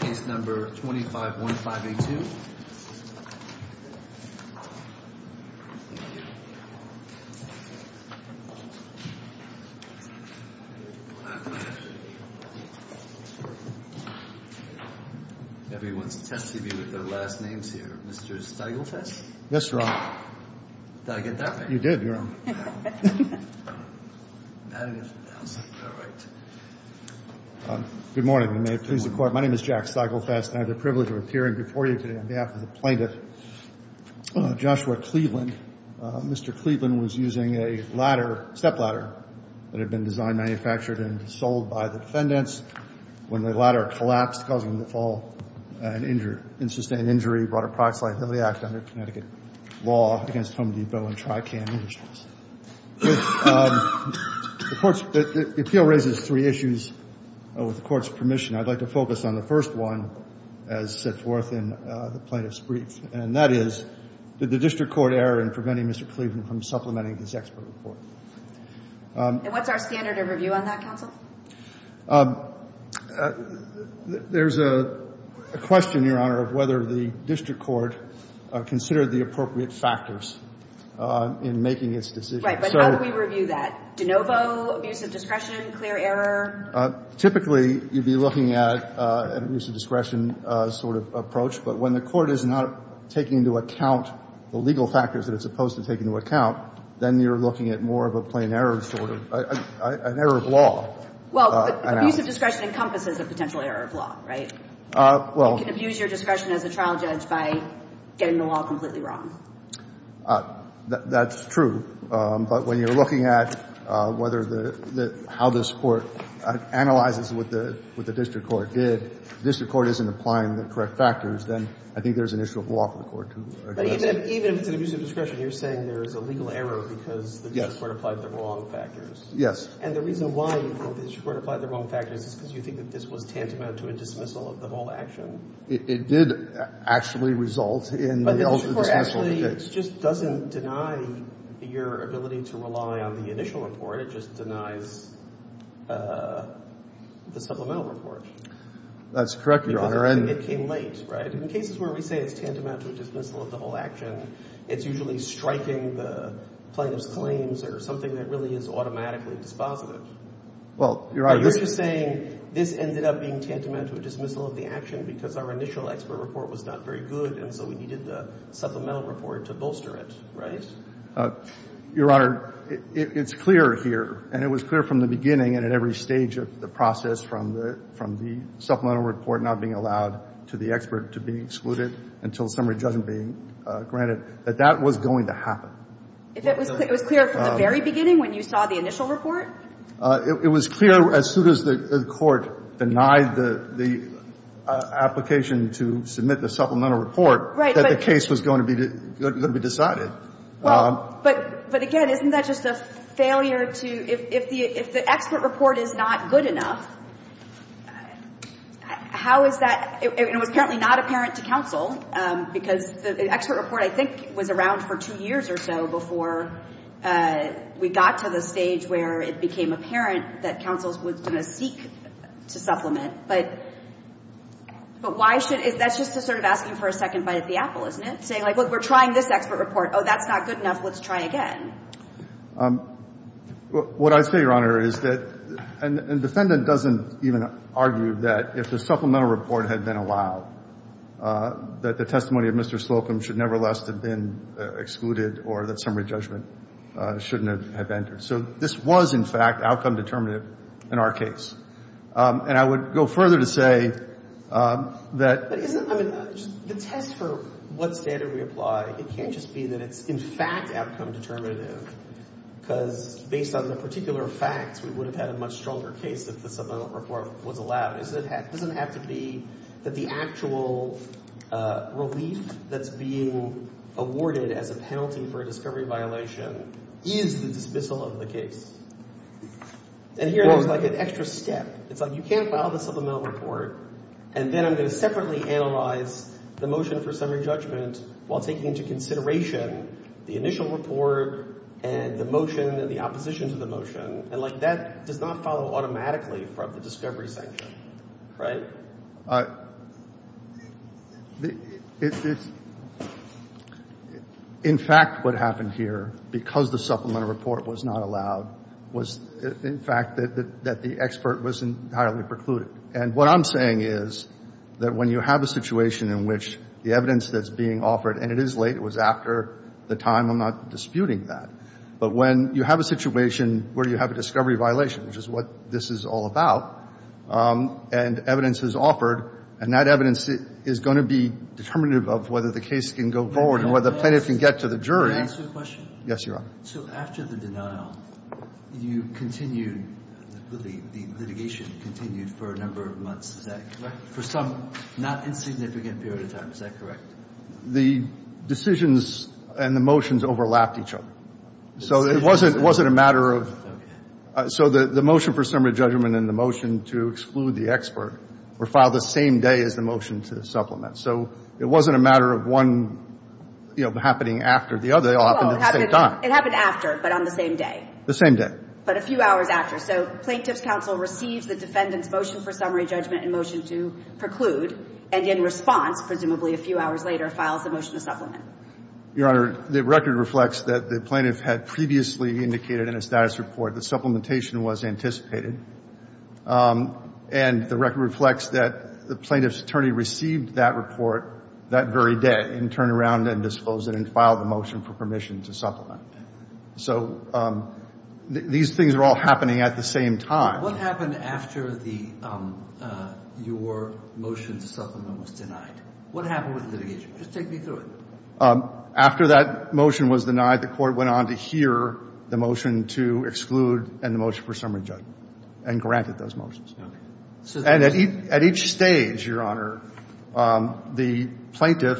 Case No. 2515A2 Everyone's testy with their last names here. Mr. Stiglitz? Yes, Your Honor. Did I get that right? You did, Your Honor. Good morning, and may it please the Court. My name is Jack Stiglitz, and I have the privilege of appearing before you today on behalf of the plaintiff, Joshua Cleaveland. Mr. Cleaveland was using a ladder, a stepladder, that had been designed, manufactured, and sold by the defendants. When the ladder collapsed, causing the fall and sustained injury, he brought a proxily of the act under Connecticut law against Home Depot and Tricam Industries. The appeal raises three issues. With the Court's permission, I'd like to focus on the first one as set forth in the plaintiff's brief, and that is, did the district court err in preventing Mr. Cleaveland from supplementing his expert report? And what's our standard of review on that, counsel? There's a question, Your Honor, of whether the district court considered the appropriate factors in making its decision. Right. But how do we review that? De novo, abuse of discretion, clear error? Typically, you'd be looking at an abuse of discretion sort of approach, but when the court is not taking into account the legal factors that it's supposed to take into account, then you're looking at more of a plain error sort of, an error of law. Well, but abuse of discretion encompasses a potential error of law, right? Well. You can abuse your discretion as a trial judge by getting the law completely wrong. That's true. But when you're looking at whether the, how this Court analyzes what the district court did, the district court isn't applying the correct factors, then I think there's an issue of law for the Court to address that. But even if it's an abuse of discretion, you're saying there is a legal error because the district court applied the wrong factors. Yes. And the reason why you think the district court applied the wrong factors is because you think that this was tantamount to a dismissal of the whole action? It did actually result in the ultimate dismissal of the case. But the district court actually, it just doesn't deny your ability to rely on the initial report. It just denies the supplemental report. That's correct, Your Honor. It came late, right? In cases where we say it's tantamount to a dismissal of the whole action, it's usually striking the plaintiff's claims or something that really is automatically dispositive. Well, Your Honor. You're just saying this ended up being tantamount to a dismissal of the action because our initial expert report was not very good, and so we needed the supplemental report to bolster it, right? Your Honor, it's clear here, and it was clear from the beginning and at every stage of the process from the supplemental report not being allowed to the expert to be excluded until summary judgment being granted, that that was going to happen. It was clear from the very beginning when you saw the initial report? It was clear as soon as the court denied the application to submit the supplemental report that the case was going to be decided. But again, isn't that just a failure to – if the expert report is not good enough, how is that – and it was apparently not apparent to counsel because the expert report, I think, was around for two years or so before we got to the stage where it became apparent that counsel was going to seek to supplement. But why should – that's just sort of asking for a second bite at the apple, isn't it? Saying, like, look, we're trying this expert report. Oh, that's not good enough. Let's try again. What I say, Your Honor, is that – and the defendant doesn't even argue that if the supplemental report had been allowed, that the testimony of Mr. Slocum should nevertheless have been excluded or that summary judgment shouldn't have entered. So this was, in fact, outcome determinative in our case. And I would go further to say that – but isn't – I mean, the test for what standard we apply, it can't just be that it's, in fact, outcome determinative because based on the particular facts, we would have had a much stronger case if the supplemental report was allowed. It doesn't have to be that the actual relief that's being awarded as a penalty for a discovery violation is the dismissal of the case. And here there's, like, an extra step. It's, like, you can't file the supplemental report and then I'm going to separately analyze the motion for summary judgment while taking into consideration the initial report and the motion and the opposition to the motion. And, like, that does not follow automatically from the discovery section. Right? It's – in fact, what happened here, because the supplemental report was not allowed, was, in fact, that the expert was entirely precluded. And what I'm saying is that when you have a situation in which the evidence that's being offered – and it is late. It was after the time. I'm not disputing that. But when you have a situation where you have a discovery violation, which is what this is all about, and evidence is offered, and that evidence is going to be determinative of whether the case can go forward and whether plaintiff can get to the jury. May I ask you a question? Yes, Your Honor. So after the denial, you continued – the litigation continued for a number of months. Is that correct? For some not insignificant period of time. Is that correct? The decisions and the motions overlapped each other. So it wasn't a matter of – so the motion for summary judgment and the motion to exclude the expert were filed the same day as the motion to supplement. So it wasn't a matter of one, you know, happening after the other. They all happened at the same time. It happened after, but on the same day. The same day. But a few hours after. So Plaintiff's counsel receives the defendant's motion for summary judgment and motion to preclude and in response, presumably a few hours later, files the motion to supplement. Your Honor, the record reflects that the plaintiff had previously indicated in a status report that supplementation was anticipated. And the record reflects that the plaintiff's attorney received that report that very day and turned around and disclosed it and filed the motion for permission to supplement. So these things are all happening at the same time. What happened after the – your motion to supplement was denied? What happened with the litigation? Just take me through it. After that motion was denied, the Court went on to hear the motion to exclude and the motion for summary judgment and granted those motions. Okay. And at each stage, Your Honor, the plaintiff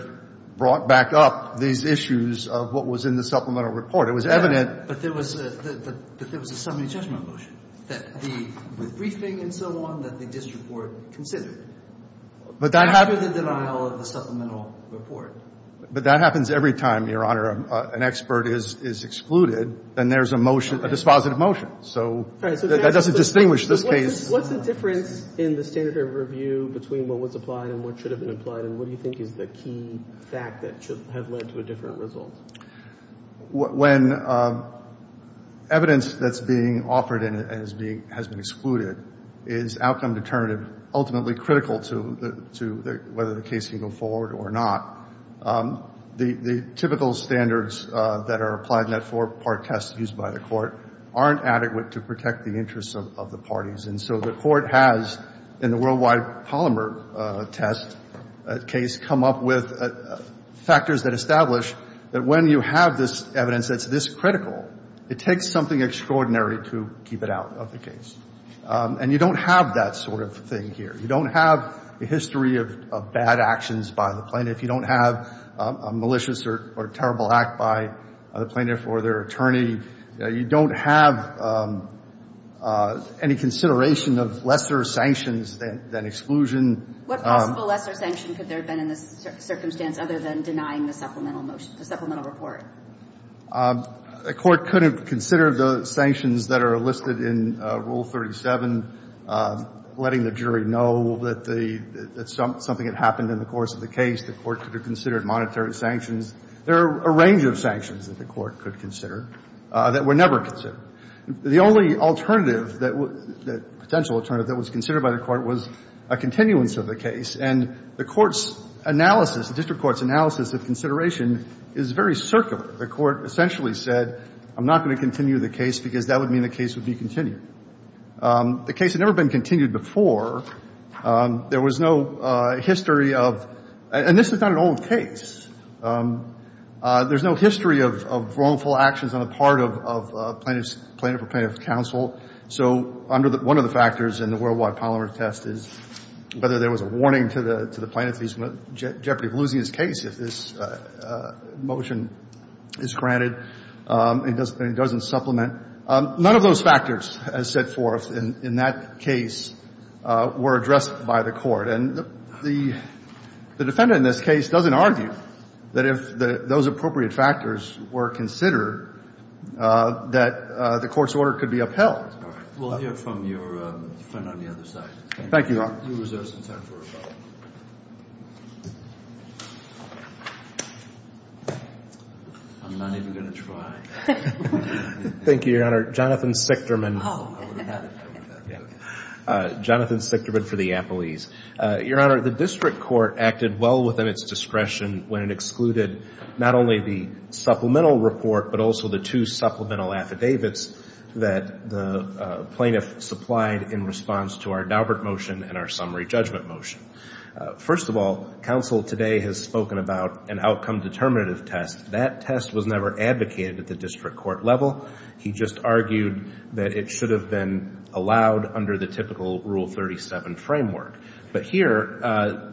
brought back up these issues of what was in the supplemental report. It was evident. But there was a summary judgment motion with briefing and so on that the district court considered after the denial of the supplemental report. But that happens every time, Your Honor, an expert is excluded. Then there's a motion, a dispositive motion. So that doesn't distinguish this case. What's the difference in the standard of review between what was applied and what should have been applied? And what do you think is the key fact that should have led to a different result? When evidence that's being offered and has been excluded is outcome determinative ultimately critical to whether the case can go forward or not, the typical standards that are applied in that four-part test used by the Court aren't adequate to protect the interests of the parties. And so the Court has, in the worldwide polymer test case, come up with factors that establish that when you have this evidence that's this critical, it takes something extraordinary to keep it out of the case. And you don't have that sort of thing here. You don't have a history of bad actions by the plaintiff. You don't have a malicious or terrible act by the plaintiff or their attorney. You don't have any consideration of lesser sanctions than exclusion. What possible lesser sanction could there have been in this circumstance other than denying the supplemental motion, the supplemental report? The Court couldn't consider the sanctions that are listed in Rule 37, letting the jury know that something had happened in the course of the case. The Court could have considered monetary sanctions. There are a range of sanctions that the Court could consider. That were never considered. The only alternative that was the potential alternative that was considered by the Court was a continuance of the case. And the Court's analysis, the district court's analysis of consideration is very circular. The Court essentially said, I'm not going to continue the case because that would mean the case would be continued. The case had never been continued before. There was no history of – and this is not an old case. There's no history of wrongful actions on the part of plaintiff's – plaintiff or plaintiff's counsel. So under the – one of the factors in the Worldwide Polymer Test is whether there was a warning to the plaintiff that he's in jeopardy of losing his case if this motion is granted and doesn't supplement. None of those factors, as set forth in that case, were addressed by the Court. And the defendant in this case doesn't argue that if those appropriate factors were considered, that the Court's order could be upheld. We'll hear from your friend on the other side. Thank you, Your Honor. You reserve some time for a follow-up. I'm not even going to try. Thank you, Your Honor. Jonathan Sichterman. Oh, I would have had it. I would have had it. Jonathan Sichterman for the Appellees. Your Honor, the district court acted well within its discretion when it excluded not only the supplemental report, but also the two supplemental affidavits that the plaintiff supplied in response to our Daubert motion and our summary judgment motion. First of all, counsel today has spoken about an outcome determinative test. That test was never advocated at the district court level. He just argued that it should have been allowed under the typical Rule 37 framework. But here,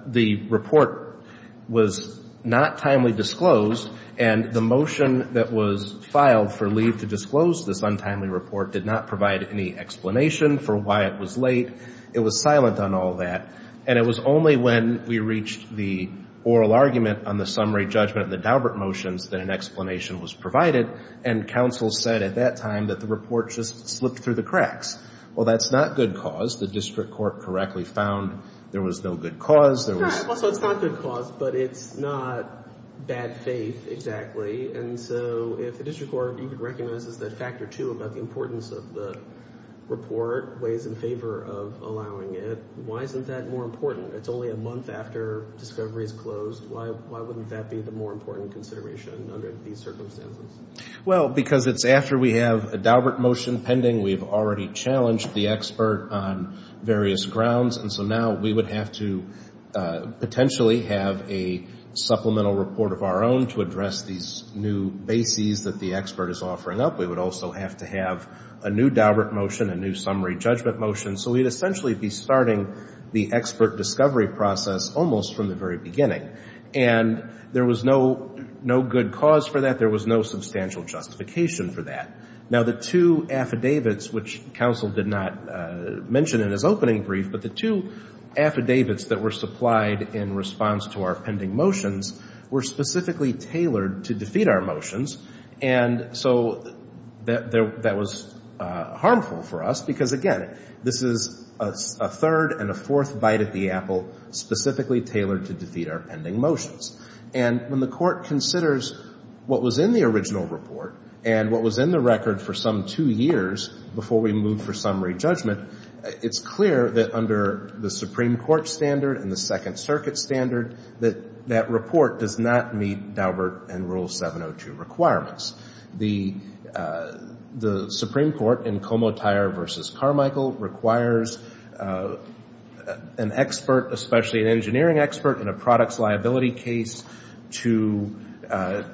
the report was not timely disclosed. And the motion that was filed for leave to disclose this untimely report did not provide any explanation for why it was late. It was silent on all that. And it was only when we reached the oral argument on the summary judgment of the that the report just slipped through the cracks. Well, that's not good cause. The district court correctly found there was no good cause. Also, it's not good cause, but it's not bad faith, exactly. And so if the district court recognizes that factor two about the importance of the report weighs in favor of allowing it, why isn't that more important? It's only a month after discovery is closed. Why wouldn't that be the more important consideration under these circumstances? Well, because it's after we have a Daubert motion pending. We've already challenged the expert on various grounds. And so now we would have to potentially have a supplemental report of our own to address these new bases that the expert is offering up. We would also have to have a new Daubert motion, a new summary judgment motion. So we'd essentially be starting the expert discovery process almost from the very beginning. And there was no good cause for that. There was no substantial justification for that. Now, the two affidavits, which counsel did not mention in his opening brief, but the two affidavits that were supplied in response to our pending motions were specifically tailored to defeat our motions. And so that was harmful for us because, again, this is a third and a fourth bite at the apple specifically tailored to defeat our pending motions. And when the court considers what was in the original report and what was in the record for some two years before we moved for summary judgment, it's clear that under the Supreme Court standard and the Second Circuit standard that that report does not meet Daubert and Rule 702 requirements. The Supreme Court in Comotire v. Carmichael requires an expert, especially an engineering expert in a product's liability case, to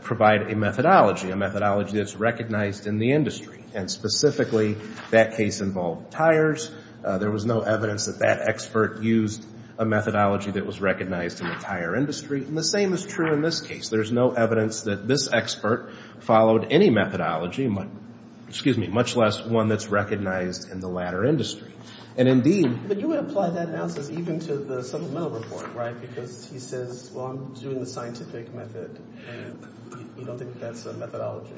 provide a methodology, a methodology that's recognized in the industry. And specifically that case involved tires. There was no evidence that that expert used a methodology that was recognized in the tire industry. And the same is true in this case. There's no evidence that this expert followed any methodology, much less one that's recognized in the latter industry. But you would apply that analysis even to the supplemental report, right? Because he says, well, I'm doing the scientific method, and you don't think that's a methodology.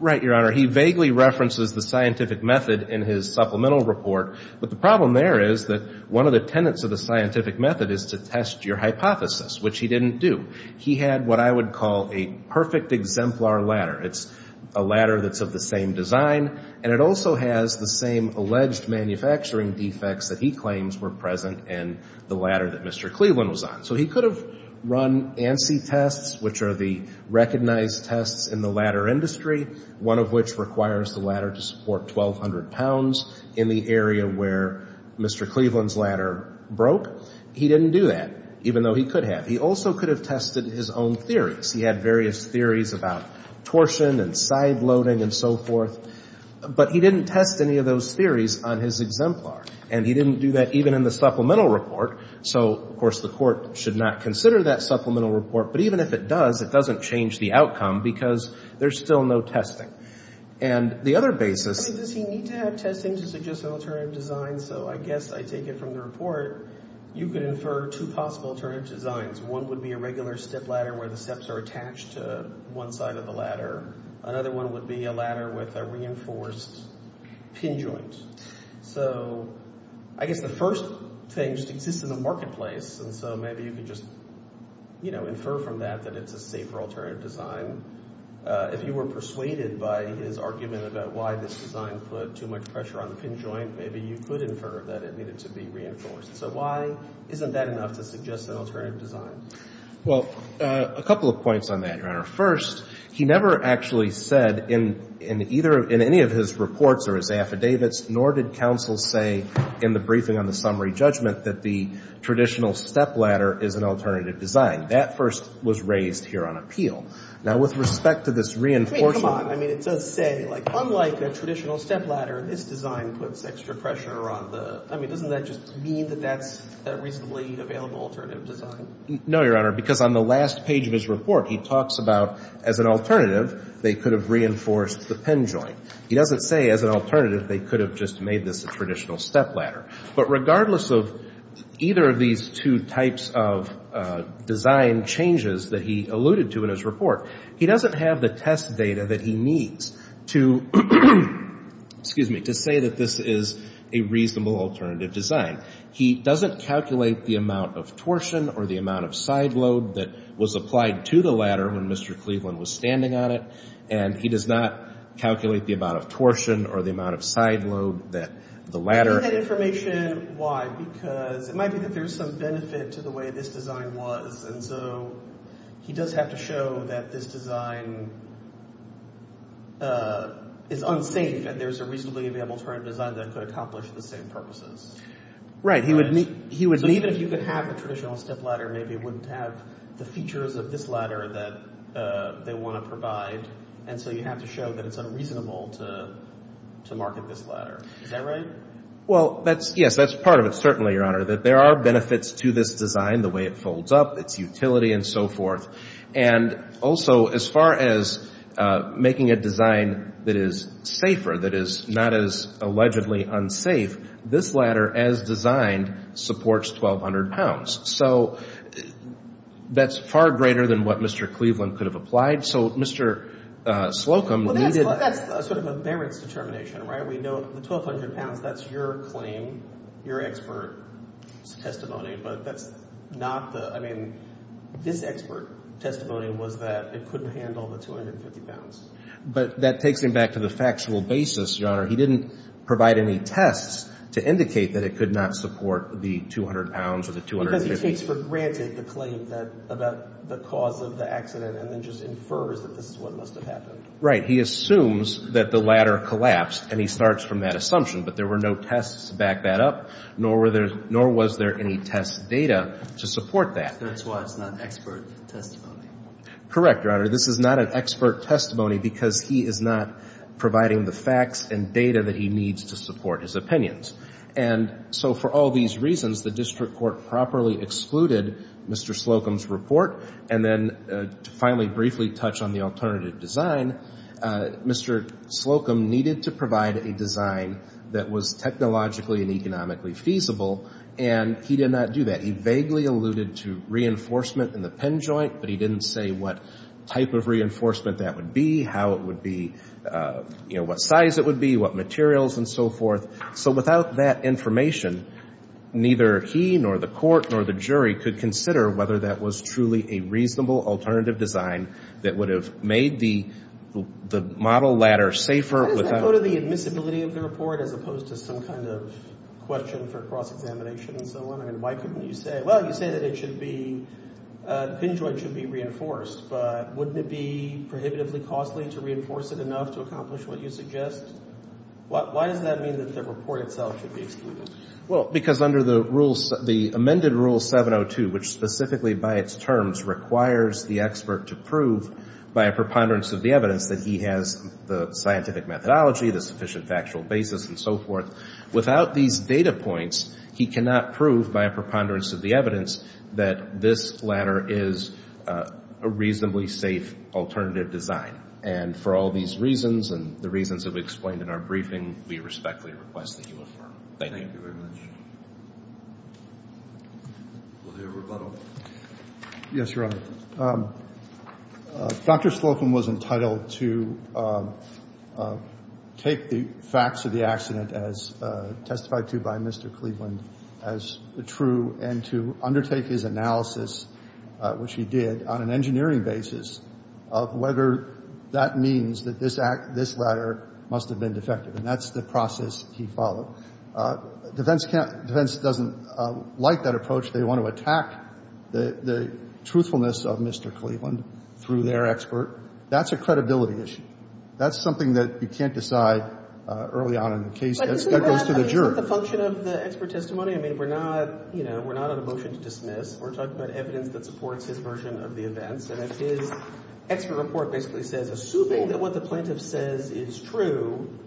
Right, Your Honor. He vaguely references the scientific method in his supplemental report. But the problem there is that one of the tenets of the scientific method is to test your hypothesis, which he didn't do. He had what I would call a perfect exemplar ladder. It's a ladder that's of the same design, and it also has the same alleged manufacturing defects that he claims were present in the ladder that Mr. Cleveland was on. So he could have run ANSI tests, which are the recognized tests in the ladder industry, one of which requires the ladder to support 1,200 pounds in the area where Mr. Cleveland's ladder broke. He didn't do that, even though he could have. He also could have tested his own theories. He had various theories about torsion and side loading and so forth. But he didn't test any of those theories on his exemplar, and he didn't do that even in the supplemental report. So, of course, the Court should not consider that supplemental report. But even if it does, it doesn't change the outcome, because there's still no testing. And the other basis — I mean, does he need to have testing to suggest an alternative design? So I guess I take it from the report, you could infer two possible alternative designs. One would be a regular step ladder where the steps are attached to one side of the ladder. Another one would be a ladder with a reinforced pin joint. So I guess the first thing just exists in the marketplace, and so maybe you could just, you know, infer from that that it's a safer alternative design. If you were persuaded by his argument about why this design put too much pressure on the pin joint, maybe you could infer that it needed to be reinforced. So why isn't that enough to suggest an alternative design? Well, a couple of points on that, Your Honor. First, he never actually said in either — in any of his reports or his affidavits, nor did counsel say in the briefing on the summary judgment that the traditional step ladder is an alternative design. That first was raised here on appeal. Now, with respect to this reinforcement — I mean, come on. I mean, it does say, like, unlike a traditional step ladder, this design puts extra pressure on the — I mean, doesn't that just mean that that's a reasonably available alternative design? No, Your Honor, because on the last page of his report, he talks about, as an alternative, they could have reinforced the pin joint. He doesn't say, as an alternative, they could have just made this a traditional step ladder. But regardless of either of these two types of design changes that he alluded to in his report, he doesn't have the test data that he needs to — excuse me — to say that this is a reasonable alternative design. He doesn't calculate the amount of torsion or the amount of side load that was applied to the ladder when Mr. Cleveland was standing on it. And he does not calculate the amount of torsion or the amount of side load that the ladder — I need that information. Because it might be that there's some benefit to the way this design was. And so he does have to show that this design is unsafe and there's a reasonably available alternative design that could accomplish the same purposes. Right. He would need — But even if you could have a traditional step ladder, maybe it wouldn't have the features of this ladder that they want to provide. And so you have to show that it's unreasonable to market this ladder. Is that right? Well, that's — yes, that's part of it, certainly, Your Honor. That there are benefits to this design, the way it folds up, its utility and so forth. And also, as far as making a design that is safer, that is not as allegedly unsafe, this ladder, as designed, supports 1,200 pounds. So that's far greater than what Mr. Cleveland could have applied. So Mr. Slocum needed — Well, that's sort of a merits determination, right? Your Honor, we know the 1,200 pounds, that's your claim, your expert's testimony. But that's not the — I mean, this expert testimony was that it couldn't handle the 250 pounds. But that takes him back to the factual basis, Your Honor. He didn't provide any tests to indicate that it could not support the 200 pounds or the 250. Because he takes for granted the claim that — about the cause of the accident and then just infers that this is what must have happened. Right. He assumes that the ladder collapsed, and he starts from that assumption. But there were no tests to back that up, nor were there — nor was there any test data to support that. That's why it's not expert testimony. Correct, Your Honor. This is not an expert testimony because he is not providing the facts and data that he needs to support his opinions. And so for all these reasons, the district court properly excluded Mr. Slocum's report. And then to finally briefly touch on the alternative design, Mr. Slocum needed to provide a design that was technologically and economically feasible, and he did not do that. He vaguely alluded to reinforcement in the pin joint, but he didn't say what type of reinforcement that would be, how it would be, you know, what size it would be, what materials and so forth. So without that information, neither he nor the court nor the jury could consider whether that was truly a reasonable alternative design that would have made the model ladder safer without — How does that go to the admissibility of the report as opposed to some kind of question for cross-examination and so on? I mean, why couldn't you say, well, you say that it should be — the pin joint should be reinforced, but wouldn't it be prohibitively costly to reinforce it enough to accomplish what you suggest? Why does that mean that the report itself should be excluded? Well, because under the rules — the amended Rule 702, which specifically by its terms requires the expert to prove by a preponderance of the evidence that he has the scientific methodology, the sufficient factual basis and so forth, without these data points, he cannot prove by a preponderance of the evidence that this ladder is a reasonably safe alternative design. And for all these reasons and the reasons that we explained in our briefing, we respectfully request that you affirm. Thank you. Thank you very much. Will there be a rebuttal? Yes, Your Honor. Dr. Slocum was entitled to take the facts of the accident as testified to by Mr. Cleveland as true and to undertake his analysis, which he did on an engineering basis, of whether that means that this ladder must have been defective. And that's the process he followed. Defense doesn't like that approach. They want to attack the truthfulness of Mr. Cleveland through their expert. That's a credibility issue. That's something that you can't decide early on in the case. That goes to the juror. But isn't that the function of the expert testimony? I mean, we're not, you know, we're not on a motion to dismiss. We're talking about evidence that supports his version of the events. And if his expert report basically says, assuming that what the plaintiff says is true,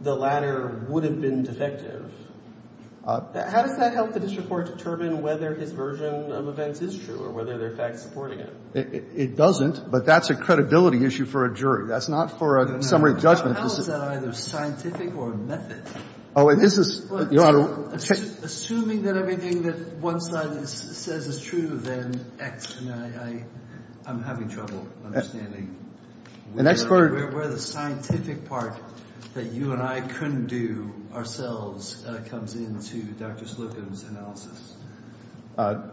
the ladder would have been defective, how does that help the district court determine whether his version of events is true or whether there are facts supporting it? It doesn't. But that's a credibility issue for a jury. That's not for a summary judgment. How is that either scientific or method? Assuming that everything that one side says is true, then I'm having trouble understanding. Where the scientific part that you and I couldn't do ourselves comes into Dr. Slocum's analysis.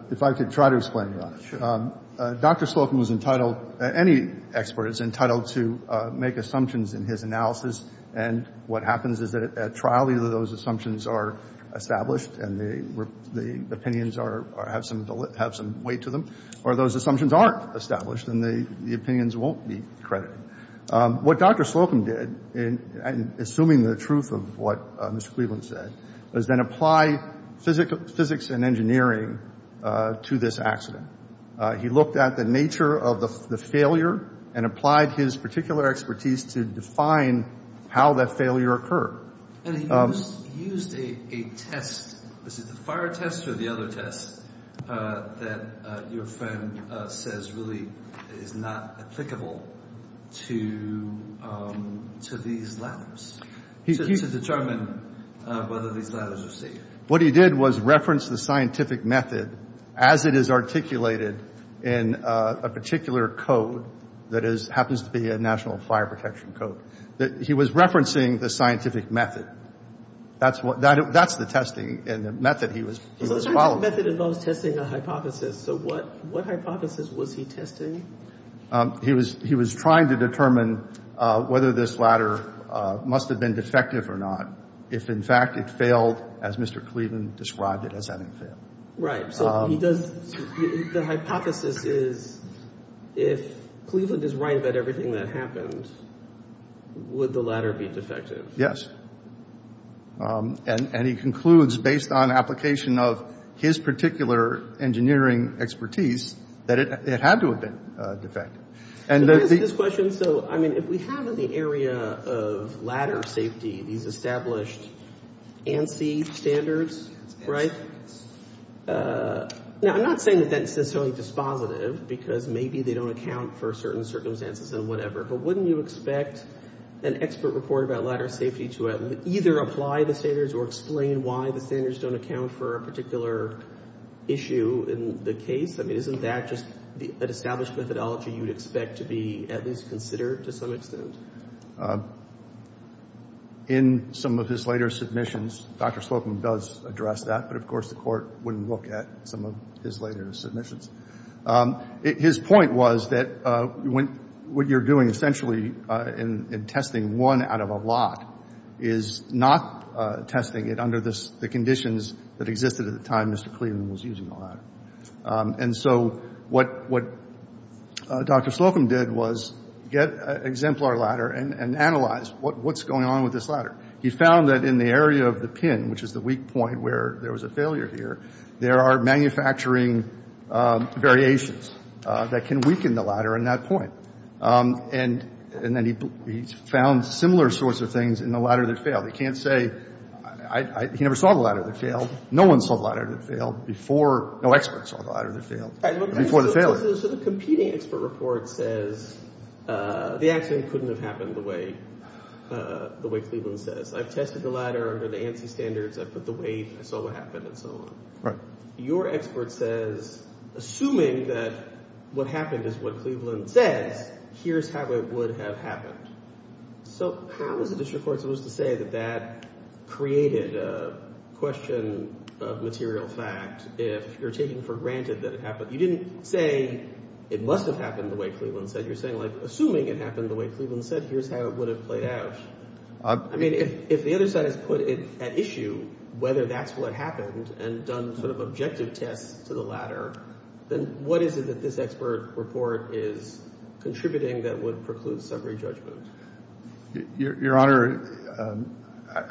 If I could try to explain that. Sure. Dr. Slocum was entitled, any expert is entitled to make assumptions in his analysis. And what happens is that at trial either those assumptions are established and the opinions have some weight to them or those assumptions aren't established and the opinions won't be credited. What Dr. Slocum did, assuming the truth of what Mr. Cleveland said, was then apply physics and engineering to this accident. He looked at the nature of the failure and applied his particular expertise to define how that failure occurred. And he used a test. Was it the fire test or the other test that your friend says really is not applicable to these ladders? To determine whether these ladders are safe. What he did was reference the scientific method as it is articulated in a particular code that happens to be a national fire protection code. He was referencing the scientific method. That's the testing and the method he was following. The scientific method involves testing a hypothesis. So what hypothesis was he testing? He was trying to determine whether this ladder must have been defective or not. If, in fact, it failed as Mr. Cleveland described it as having failed. Right. So he does the hypothesis is if Cleveland is right about everything that happened, would the ladder be defective? Yes. And he concludes based on application of his particular engineering expertise that it had to have been defective. To answer this question, so, I mean, if we have in the area of ladder safety these established ANSI standards, right? Now, I'm not saying that that's necessarily dispositive because maybe they don't account for certain circumstances and whatever. But wouldn't you expect an expert report about ladder safety to either apply the standards or explain why the standards don't account for a particular issue in the case? I mean, isn't that just an established methodology you would expect to be at least considered to some extent? In some of his later submissions, Dr. Slocum does address that. But, of course, the Court wouldn't look at some of his later submissions. His point was that what you're doing essentially in testing one out of a lot is not testing it under the conditions that existed at the time Mr. Cleveland was using the ladder. And so what Dr. Slocum did was get an exemplar ladder and analyze what's going on with this ladder. He found that in the area of the pin, which is the weak point where there was a failure here, there are manufacturing variations that can weaken the ladder in that point. And then he found similar sorts of things in the ladder that failed. He never saw the ladder that failed. No one saw the ladder that failed before. No expert saw the ladder that failed before the failure. So the competing expert report says the accident couldn't have happened the way Cleveland says. I've tested the ladder under the ANSI standards. I've put the weight. I saw what happened and so on. Right. Your expert says, assuming that what happened is what Cleveland says, here's how it would have happened. So how is the district court supposed to say that that created a question of material fact if you're taking for granted that it happened? You didn't say it must have happened the way Cleveland said. You're saying, like, assuming it happened the way Cleveland said, here's how it would have played out. I mean, if the other side has put at issue whether that's what happened and done sort of objective tests to the ladder, then what is it that this expert report is contributing that would preclude summary judgment? Your Honor,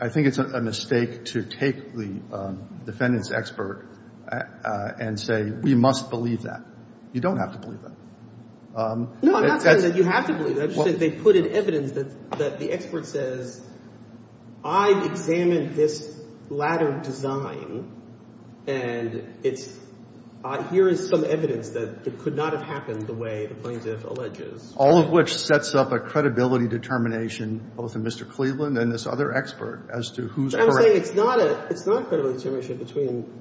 I think it's a mistake to take the defendant's expert and say, we must believe that. You don't have to believe that. No, I'm not saying that you have to believe that. I'm just saying they put in evidence that the expert says, I've examined this ladder design and here is some evidence that it could not have happened the way the plaintiff alleges. All of which sets up a credibility determination, both in Mr. Cleveland and this other expert, as to who's correct. I'm saying it's not a credibility determination between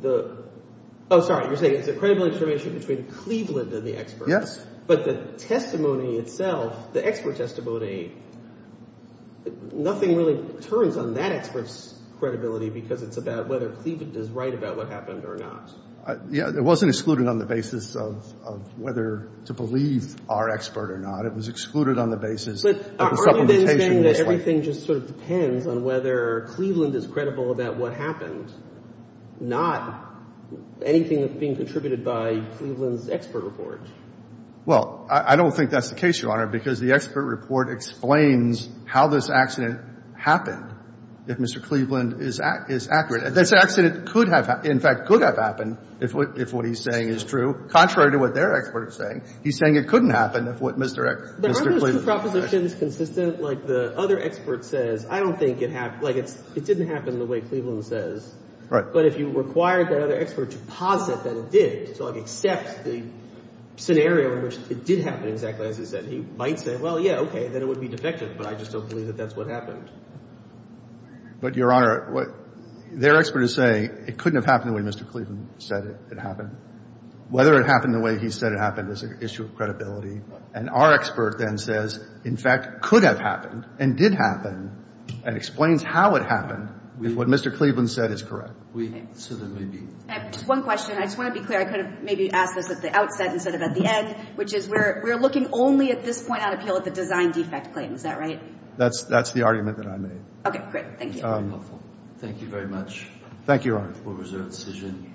the – oh, sorry. You're saying it's a credibility determination between Cleveland and the expert. Yes. But the testimony itself, the expert testimony, nothing really turns on that expert's credibility because it's about whether Cleveland is right about what happened or not. Yeah. It wasn't excluded on the basis of whether to believe our expert or not. It was excluded on the basis that the supplementation was right. But are you then saying that everything just sort of depends on whether Cleveland is credible about what happened, not anything that's being contributed by Cleveland's expert report? Well, I don't think that's the case, Your Honor, because the expert report explains how this accident happened, if Mr. Cleveland is accurate. This accident could have – in fact, could have happened if what he's saying is true. Contrary to what their expert is saying, he's saying it couldn't have happened if what Mr. Cleveland said. But aren't those two propositions consistent? Like the other expert says, I don't think it happened – like it didn't happen the way Cleveland says. Right. But if you required that other expert to posit that it did, except the scenario in which it did happen exactly as he said, he might say, well, yeah, okay, then it would be defective, but I just don't believe that that's what happened. But, Your Honor, what their expert is saying, it couldn't have happened the way Mr. Cleveland said it happened. Whether it happened the way he said it happened is an issue of credibility. And our expert then says, in fact, could have happened and did happen and explains how it happened if what Mr. Cleveland said is correct. We – so there may be – I have just one question. I just want to be clear. I could have maybe asked this at the outset instead of at the end, which is we're looking only at this point on appeal at the design defect claims. Is that right? That's the argument that I made. Okay, great. Thank you. That's very helpful. Thank you very much. Thank you, Your Honor. We'll reserve the decision.